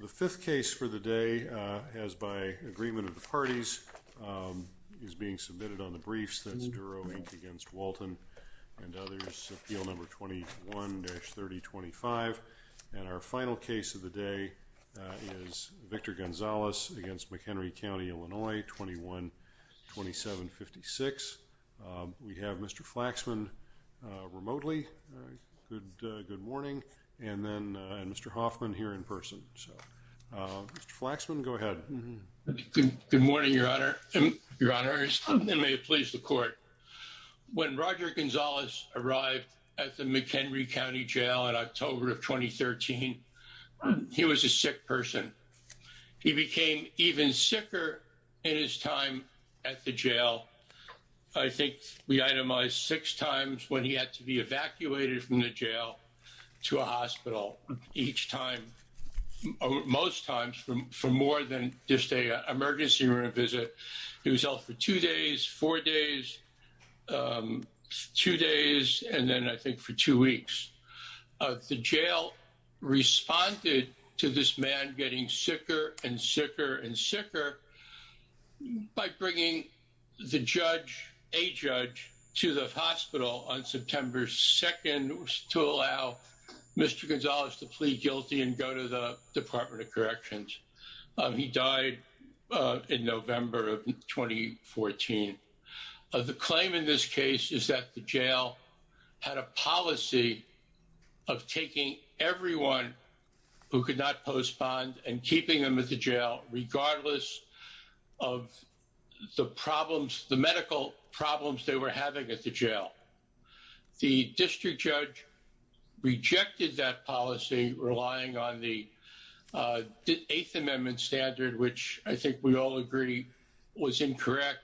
The fifth case for the day, as by agreement of the parties, is being submitted on the briefs. That's Duro, Inc. v. Walton and others, Appeal No. 21-3025. And our final case of the day is Victor Gonzalez v. McHenry County, Illinois, 21-2756. We have Mr. Flaxman remotely. Good morning. And then Mr. Hoffman here in person. Mr. Flaxman, go ahead. Good morning, Your Honor, and may it please the Court. When Roger Gonzalez arrived at the McHenry County Jail in October of 2013, he was a sick person. He became even sicker in his time at the jail. I think we itemized six times when he had to be evacuated from the jail to a hospital each time, most times, for more than just an emergency room visit. He was held for two days, four days, two days, and then I think for two weeks. The jail responded to this man getting sicker and sicker and sicker by bringing the judge, a judge, to the hospital on September 2nd to allow Mr. Gonzalez to plead guilty and go to the Department of Corrections. He died in November of 2014. The claim in this case is that the jail had a policy of taking everyone who could not postpone and keeping them at the jail regardless of the problems, the medical problems they were having at the jail. The district judge rejected that policy, relying on the Eighth Amendment standard, which I think we all agree was incorrect.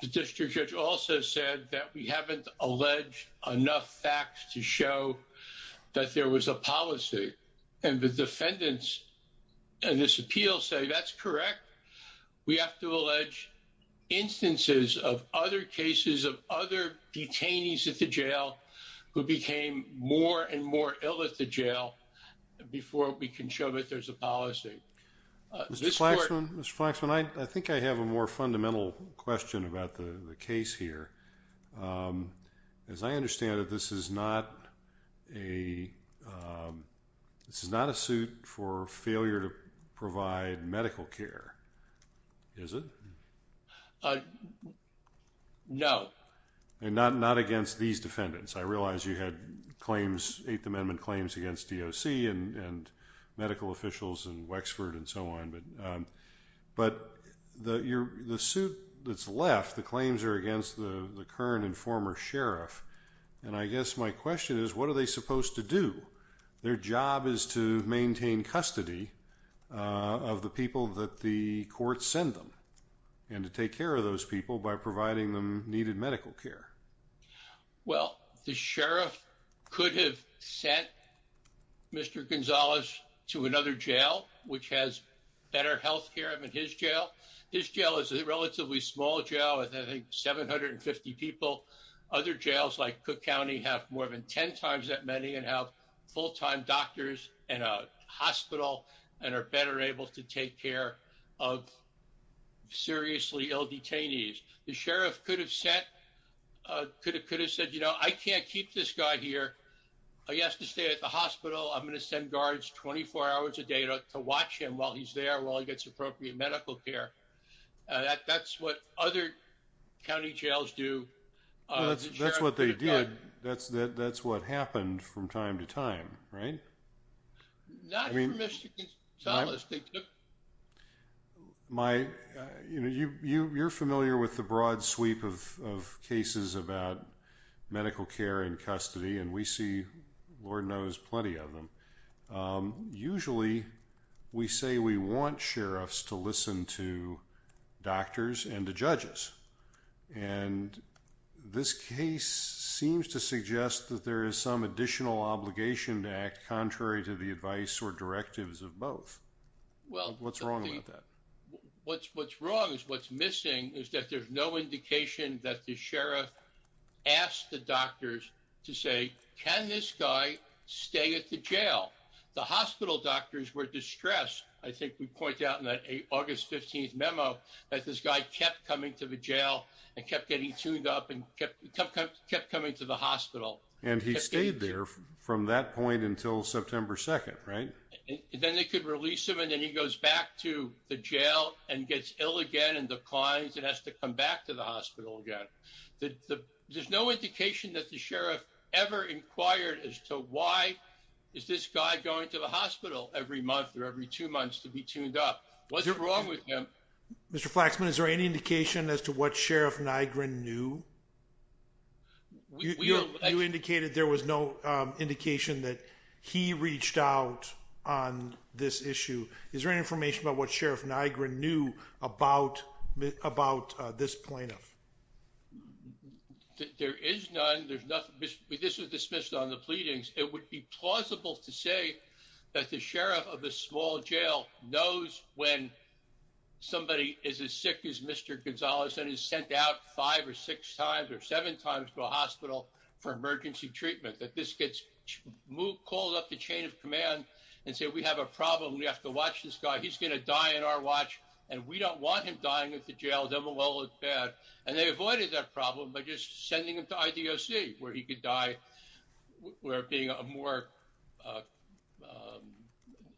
The district judge also said that we haven't alleged enough facts to show that there was a policy. And the defendants in this appeal say that's correct. We have to allege instances of other cases of other detainees at the jail who became more and more ill at the jail before we can show that there's a policy. Mr. Flaxman, Mr. Flaxman, I think I have a more fundamental question about the case here. As I understand it, this is not a, this is not a suit for failure to provide medical care, is it? No. And not against these defendants. I realize you had claims, Eighth Amendment claims against DOC and medical officials and Wexford and so on. But the suit that's left, the claims are against the current and former sheriff. And I guess my question is, what are they supposed to do? Their job is to maintain custody of the people that the courts send them and to take care of those people by providing them needed medical care. Well, the sheriff could have sent Mr. Gonzalez to another jail, which has better health care than his jail. His jail is a relatively small jail with, I think, 750 people. Other jails like Cook County have more than 10 times that many and have full-time doctors and and are better able to take care of seriously ill detainees. The sheriff could have sent, could have said, you know, I can't keep this guy here. He has to stay at the hospital. I'm going to send guards 24 hours a day to watch him while he's there, while he gets appropriate medical care. That's what other county jails do. That's what they did. That's what happened from time to time, right? You're familiar with the broad sweep of cases about medical care and custody, and we see, Lord knows, plenty of them. Usually, we say we want sheriffs to listen to doctors and to judges, and this case seems to suggest that there is some additional obligation to act contrary to the advice or directives of both. What's wrong with that? What's wrong is what's missing is that there's no indication that the sheriff asked the doctors to say, can this guy stay at the jail? The hospital doctors were distressed. I think we point out in that August 15th memo that this guy kept coming to the jail and kept getting tuned up and kept coming to the hospital. And he stayed there from that point until September 2nd, right? Then they could release him, and then he goes back to the jail and gets ill again and declines and has to come back to the hospital again. There's no indication that the sheriff ever inquired as to why is this guy going to the hospital every month or every two months to be tuned up. What's wrong with him? Mr. Flaxman, is there any indication as to what Sheriff Nygren knew? You indicated there was no indication that he reached out on this issue. Is there any information about what Sheriff Nygren knew about this plaintiff? There is none. This was dismissed on the pleadings. It would be plausible to say that the sheriff of a small jail knows when somebody is as sick as Mr. Gonzalez and is sent out five or six times or seven times to a hospital for emergency treatment. That this gets called up the chain of command and say, we have a problem. We have to watch this guy. He's going to die on our watch, and we don't want him dying at the jail. And they avoided that problem by just sending him to IDOC where he could die, where being a more,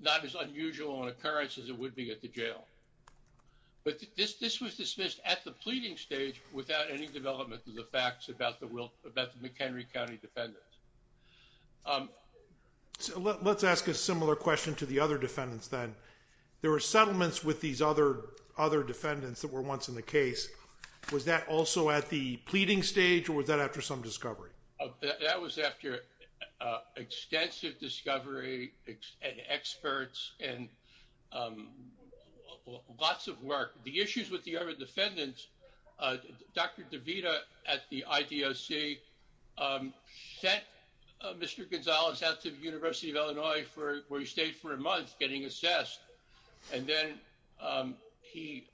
not as unusual an occurrence as it would be at the jail. But this was dismissed at the pleading stage without any development of the facts about the McHenry County defendants. Let's ask a similar question to the other defendants then. There were settlements with these other defendants that were once in the case. Was that also at the pleading stage or was that after some discovery? That was after extensive discovery and experts and lots of work. The issues with the other defendants, Dr. DeVita at the IDOC sent Mr. Gonzalez out to the University of Illinois where he stayed for a month getting assessed. And then he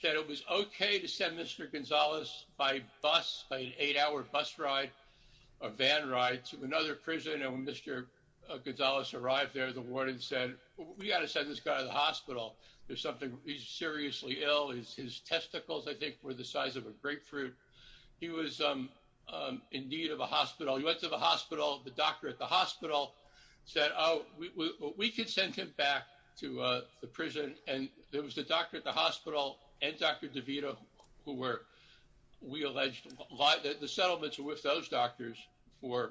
said it was okay to send Mr. Gonzalez by bus, by an eight-hour bus ride or van ride to another prison. And when Mr. Gonzalez arrived there, the warden said, we've got to send this guy to the hospital. There's something, he's seriously ill. His testicles, I think, were the size of a grapefruit. He was in need of a hospital. He went to the hospital. The doctor at the hospital said, oh, we could send him back to the prison. And there was a doctor at the hospital and Dr. DeVita who were, we alleged, the settlements were with those doctors for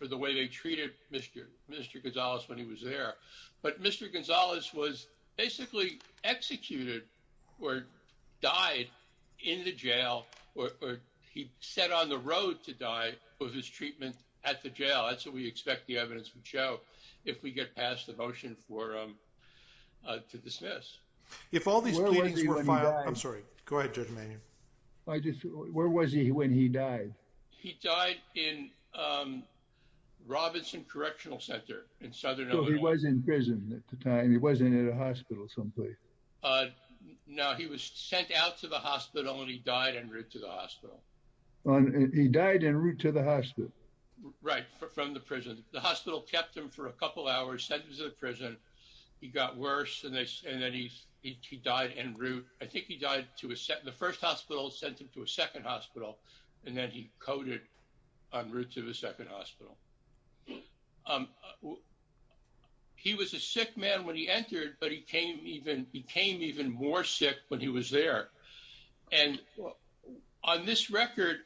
the way they treated Mr. Gonzalez when he was there. But Mr. Gonzalez was basically executed or died in the jail or he sat on the road to die with his treatment at the jail. That's what we expect the evidence would show if we get past the motion to dismiss. Where was he when he died? I'm sorry. Go ahead, Judge Manion. Where was he when he died? He died in Robinson Correctional Center in southern Illinois. He was in prison at the time. He wasn't at a hospital someplace. No, he was sent out to the hospital and he died en route to the hospital. He died en route to the hospital. Right, from the prison. The hospital kept him for a couple hours, sent him to the prison. He got worse and then he died en route. I think he died, the first hospital sent him to a second hospital and then he coded en route to the second hospital. He was a sick man when he entered, but he became even more sick when he was there. And on this record,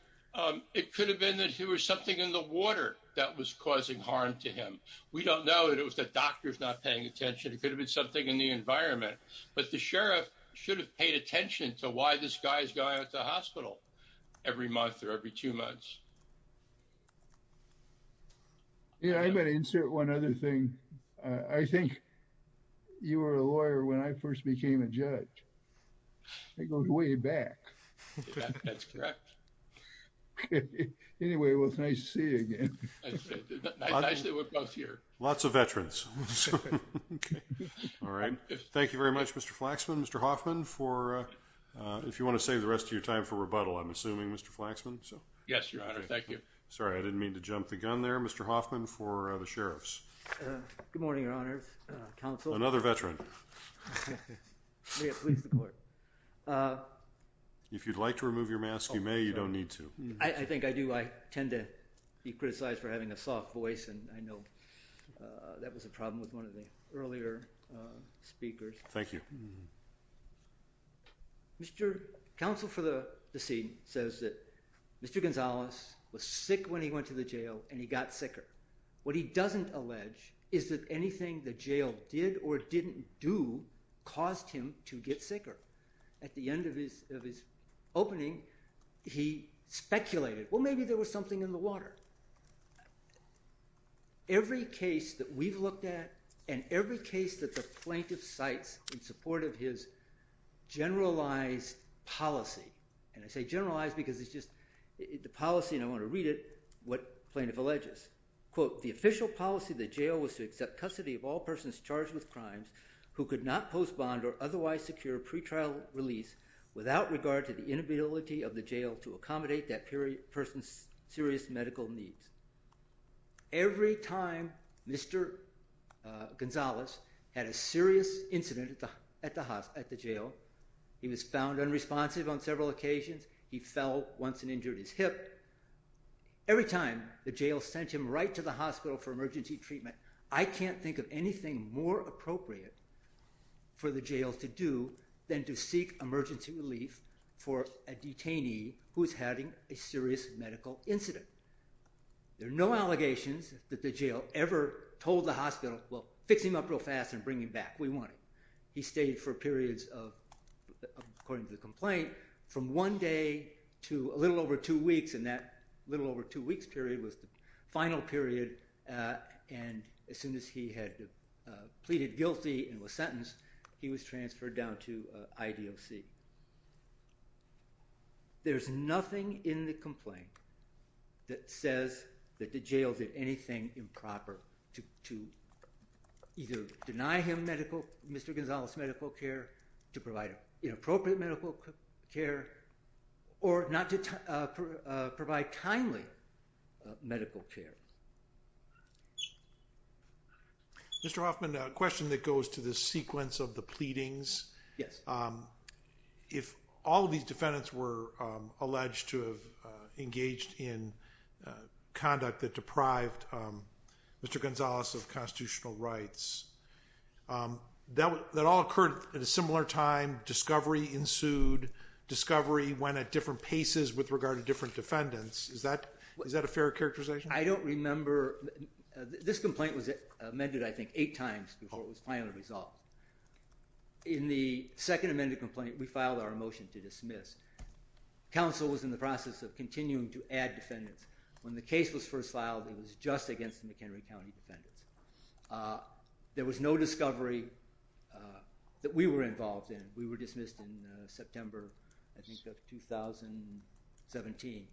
it could have been that there was something in the water that was causing harm to him. We don't know. It was the doctors not paying attention. It could have been something in the environment. But the sheriff should have paid attention to why this guy is going to the hospital every month or every two months. Yeah, I'm going to insert one other thing. I think you were a lawyer when I first became a judge. That goes way back. That's correct. Okay. Anyway, well, it's nice to see you again. It's nice that we're both here. Lots of veterans. All right. Thank you very much, Mr. Flaxman. Mr. Hoffman, if you want to save the rest of your time for rebuttal, I'm assuming, Mr. Flaxman. Yes, Your Honor. Thank you. Sorry, I didn't mean to jump the gun there. Mr. Hoffman for the sheriffs. Good morning, Your Honors. Counsel. Another veteran. May it please the court. If you'd like to remove your mask, you may. You don't need to. I think I do. I tend to be criticized for having a soft voice, and I know that was a problem with one of the earlier speakers. Thank you. Mr. Counsel for the deceased says that Mr. Gonzalez was sick when he went to the jail, and he got sicker. What he doesn't allege is that anything the jail did or didn't do caused him to get sicker. At the end of his opening, he speculated, well, maybe there was something in the water. Every case that we've looked at and every case that the plaintiff cites in support of his generalized policy, and I say generalized because it's just the policy, and I want to read it, what the plaintiff alleges. Quote, the official policy of the jail was to accept custody of all persons charged with crimes who could not postpone or otherwise secure a pretrial release without regard to the inability of the jail to accommodate that person's serious medical needs. Every time Mr. Gonzalez had a serious incident at the jail, he was found unresponsive on several occasions. He fell once and injured his hip. Every time the jail sent him right to the hospital for emergency treatment, I can't think of anything more appropriate for the jail to do than to seek emergency relief for a detainee who's having a serious medical incident. There are no allegations that the jail ever told the hospital, well, fix him up real fast and bring him back. We want him. He stayed for periods of, according to the complaint, from one day to a little over two weeks, and that little over two weeks period was the final period, and as soon as he had pleaded guilty and was sentenced, he was transferred down to IDOC. There's nothing in the complaint that says that the jail did anything improper to either deny him medical, Mr. Gonzalez's medical care, to provide inappropriate medical care, or not to provide timely medical care. Mr. Hoffman, a question that goes to the sequence of the pleadings. Yes. If all of these defendants were alleged to have engaged in conduct that deprived Mr. Gonzalez of constitutional rights, that all occurred at a similar time, discovery ensued, discovery went at different paces with regard to different defendants. Is that a fair characterization? I don't remember. This complaint was amended, I think, eight times before it was finally resolved. In the second amended complaint, we filed our motion to dismiss. Counsel was in the process of continuing to add defendants. When the case was first filed, it was just against the McHenry County defendants. There was no discovery that we were involved in. We were dismissed in September, I think, of 2017,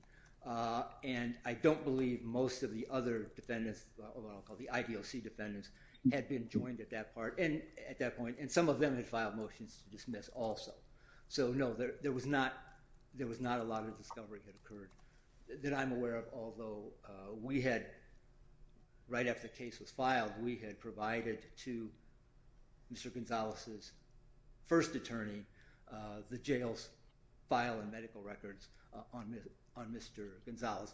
and I don't believe most of the other defendants, the IDOC defendants, had been joined at that point, and some of them had filed motions to dismiss also. So, no, there was not a lot of discovery that occurred that I'm aware of, although we had, right after the case was filed, we had provided to Mr. Gonzalez's first attorney the jail's file and medical records on Mr. Gonzalez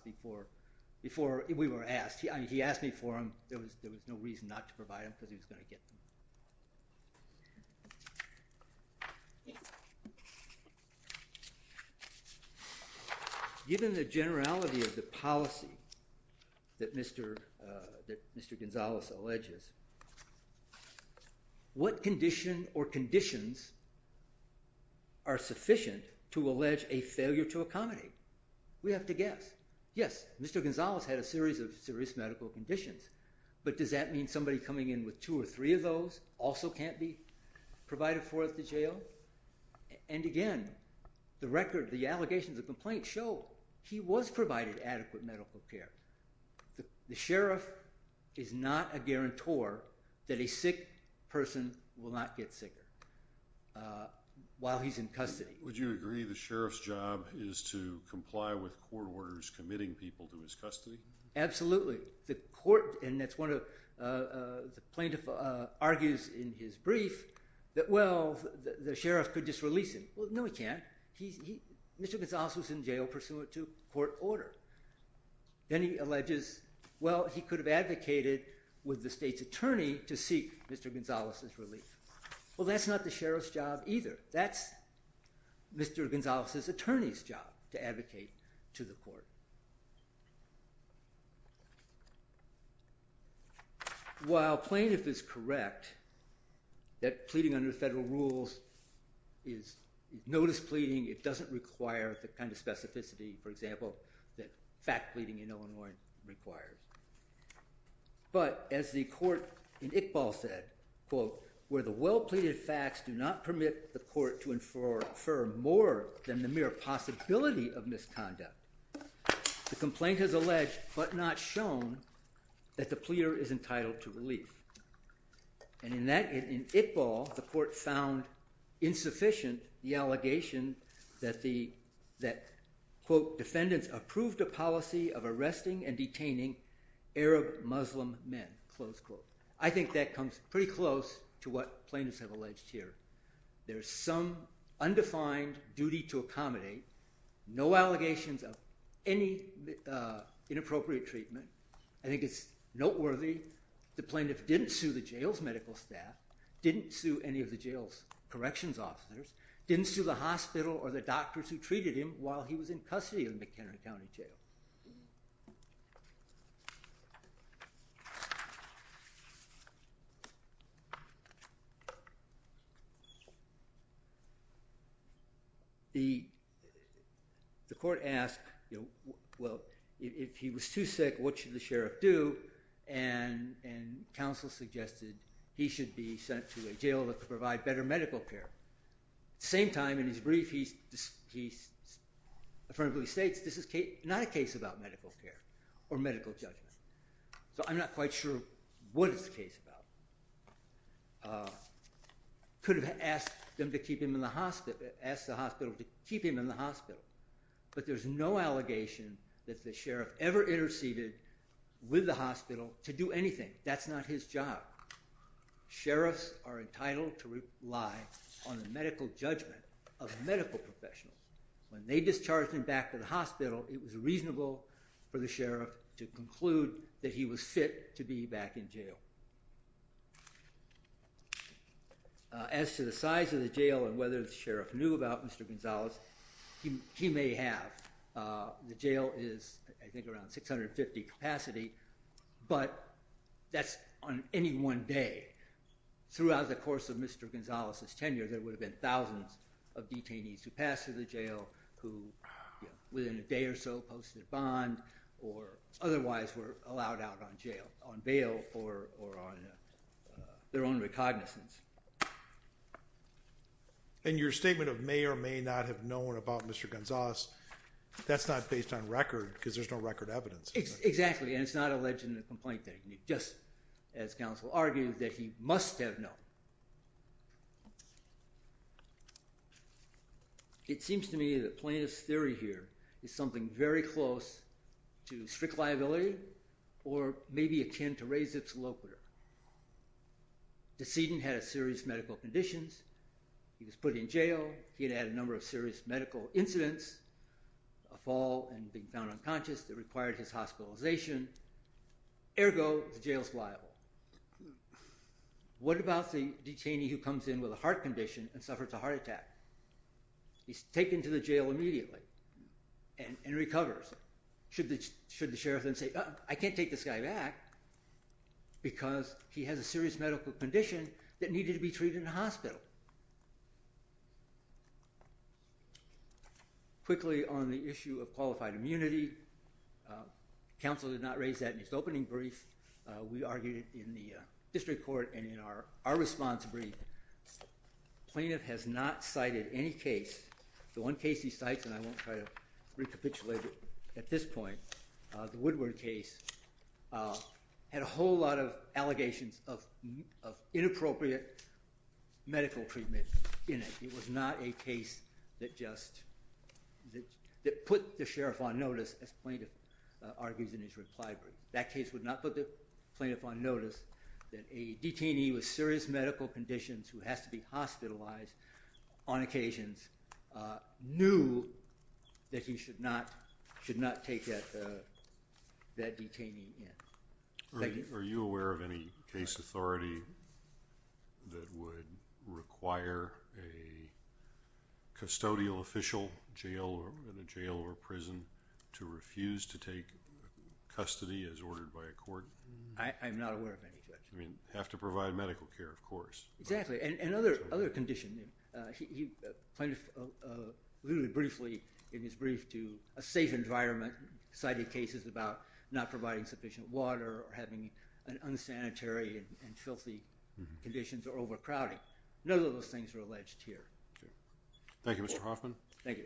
before we were asked. He asked me for them. There was no reason not to provide them because he was going to get them. Given the generality of the policy that Mr. Gonzalez alleges, what condition or conditions are sufficient to allege a failure to accommodate? We have to guess. Yes, Mr. Gonzalez had a series of serious medical conditions, but does that mean somebody coming in with two or three of those also can't be provided for at the jail? And again, the record, the allegations of complaint show he was provided adequate medical care. The sheriff is not a guarantor that a sick person will not get sicker while he's in custody. Would you agree the sheriff's job is to comply with court orders committing people to his custody? Absolutely. The plaintiff argues in his brief that, well, the sheriff could just release him. Well, no he can't. Mr. Gonzalez was in jail pursuant to court order. Then he alleges, well, he could have advocated with the state's attorney to seek Mr. Gonzalez's relief. Well, that's not the sheriff's job either. That's Mr. Gonzalez's attorney's job to advocate to the court. While plaintiff is correct that pleading under federal rules is notice pleading, it doesn't require the kind of specificity, for example, that fact pleading in Illinois requires. But as the court in Iqbal said, quote, where the well-pleaded facts do not permit the court to infer more than the mere possibility of misconduct, the complaint has alleged but not shown that the pleader is entitled to relief. And in that, in Iqbal, the court found insufficient the allegation that the, quote, defendants approved a policy of arresting and detaining Arab Muslim men, close quote. I think that comes pretty close to what plaintiffs have alleged here. There's some undefined duty to accommodate, no allegations of any inappropriate treatment. I think it's noteworthy the plaintiff didn't sue the jail's medical staff, didn't sue any of the jail's corrections officers, didn't sue the hospital or the doctors who treated him while he was in custody in McHenry County Jail. The court asked, you know, well, if he was too sick, what should the sheriff do? And counsel suggested he should be sent to a jail that could provide better medical care. At the same time, in his brief, he affirmatively states this is not a case about medical care or medical judgment. So I'm not quite sure what it's a case about. Could have asked them to keep him in the hospital, asked the hospital to keep him in the hospital. But there's no allegation that the sheriff ever interceded with the hospital to do anything. That's not his job. Sheriffs are entitled to rely on the medical judgment of medical professionals. When they discharged him back to the hospital, it was reasonable for the sheriff to conclude that he was fit to be back in jail. As to the size of the jail and whether the sheriff knew about Mr. Gonzalez, he may have. The jail is, I think, around 650 capacity. But that's on any one day. Throughout the course of Mr. Gonzalez's tenure, there would have been thousands of detainees who passed through the jail who, within a day or so, posted a bond or otherwise were allowed out on bail or on their own recognizance. And your statement of may or may not have known about Mr. Gonzalez, that's not based on record because there's no record evidence. Exactly. And it's not alleged in the complaint that he knew, just as counsel argued that he must have known. It seems to me that plaintiff's theory here is something very close to strict liability or maybe akin to raise its locator. The decedent had serious medical conditions. He was put in jail. He had had a number of serious medical incidents, a fall and being found unconscious that required his hospitalization. Ergo, the jail's liable. What about the detainee who comes in with a heart condition and suffers a heart attack? He's taken to the jail immediately and recovers. Should the sheriff then say, I can't take this guy back because he has a serious medical condition that needed to be treated in a hospital? Quickly, on the issue of qualified immunity, counsel did not raise that in his opening brief. We argued it in the district court and in our response brief. Plaintiff has not cited any case. The one case he cites, and I won't try to recapitulate it at this point, the Woodward case, had a whole lot of allegations of inappropriate medical treatment in it. It was not a case that put the sheriff on notice, as plaintiff argues in his reply brief. That case would not put the plaintiff on notice that a detainee with serious medical conditions who has to be hospitalized on occasions knew that he should not take that detainee in. Are you aware of any case authority that would require a custodial official in a jail or prison to refuse to take custody as ordered by a court? I'm not aware of any such. I mean, have to provide medical care, of course. Exactly, and other conditions. Plaintiff, literally briefly in his brief, to a safe environment, cited cases about not providing sufficient water or having unsanitary and filthy conditions or overcrowding. None of those things were alleged here. Thank you, Mr. Hoffman. Thank you.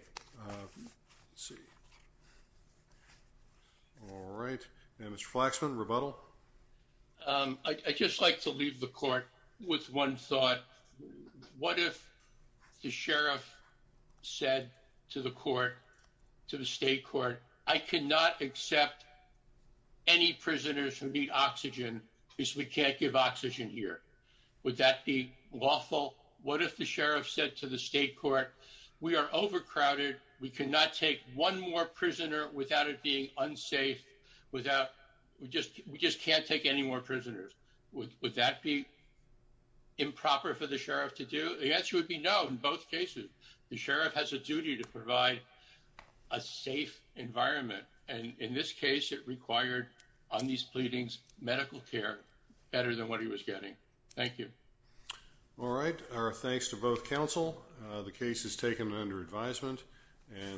All right. Now, Mr. Flaxman, rebuttal? I'd just like to leave the court with one thought. What if the sheriff said to the court, to the state court, I cannot accept any prisoners who need oxygen because we can't give oxygen here? Would that be lawful? What if the sheriff said to the state court, we are overcrowded. We cannot take one more prisoner without it being unsafe, we just can't take any more prisoners. Would that be improper for the sheriff to do? The answer would be no in both cases. The sheriff has a duty to provide a safe environment. And in this case, it required, on these pleadings, medical care better than what he was getting. Thank you. All right. Our thanks to both counsel. The case is taken under advisement.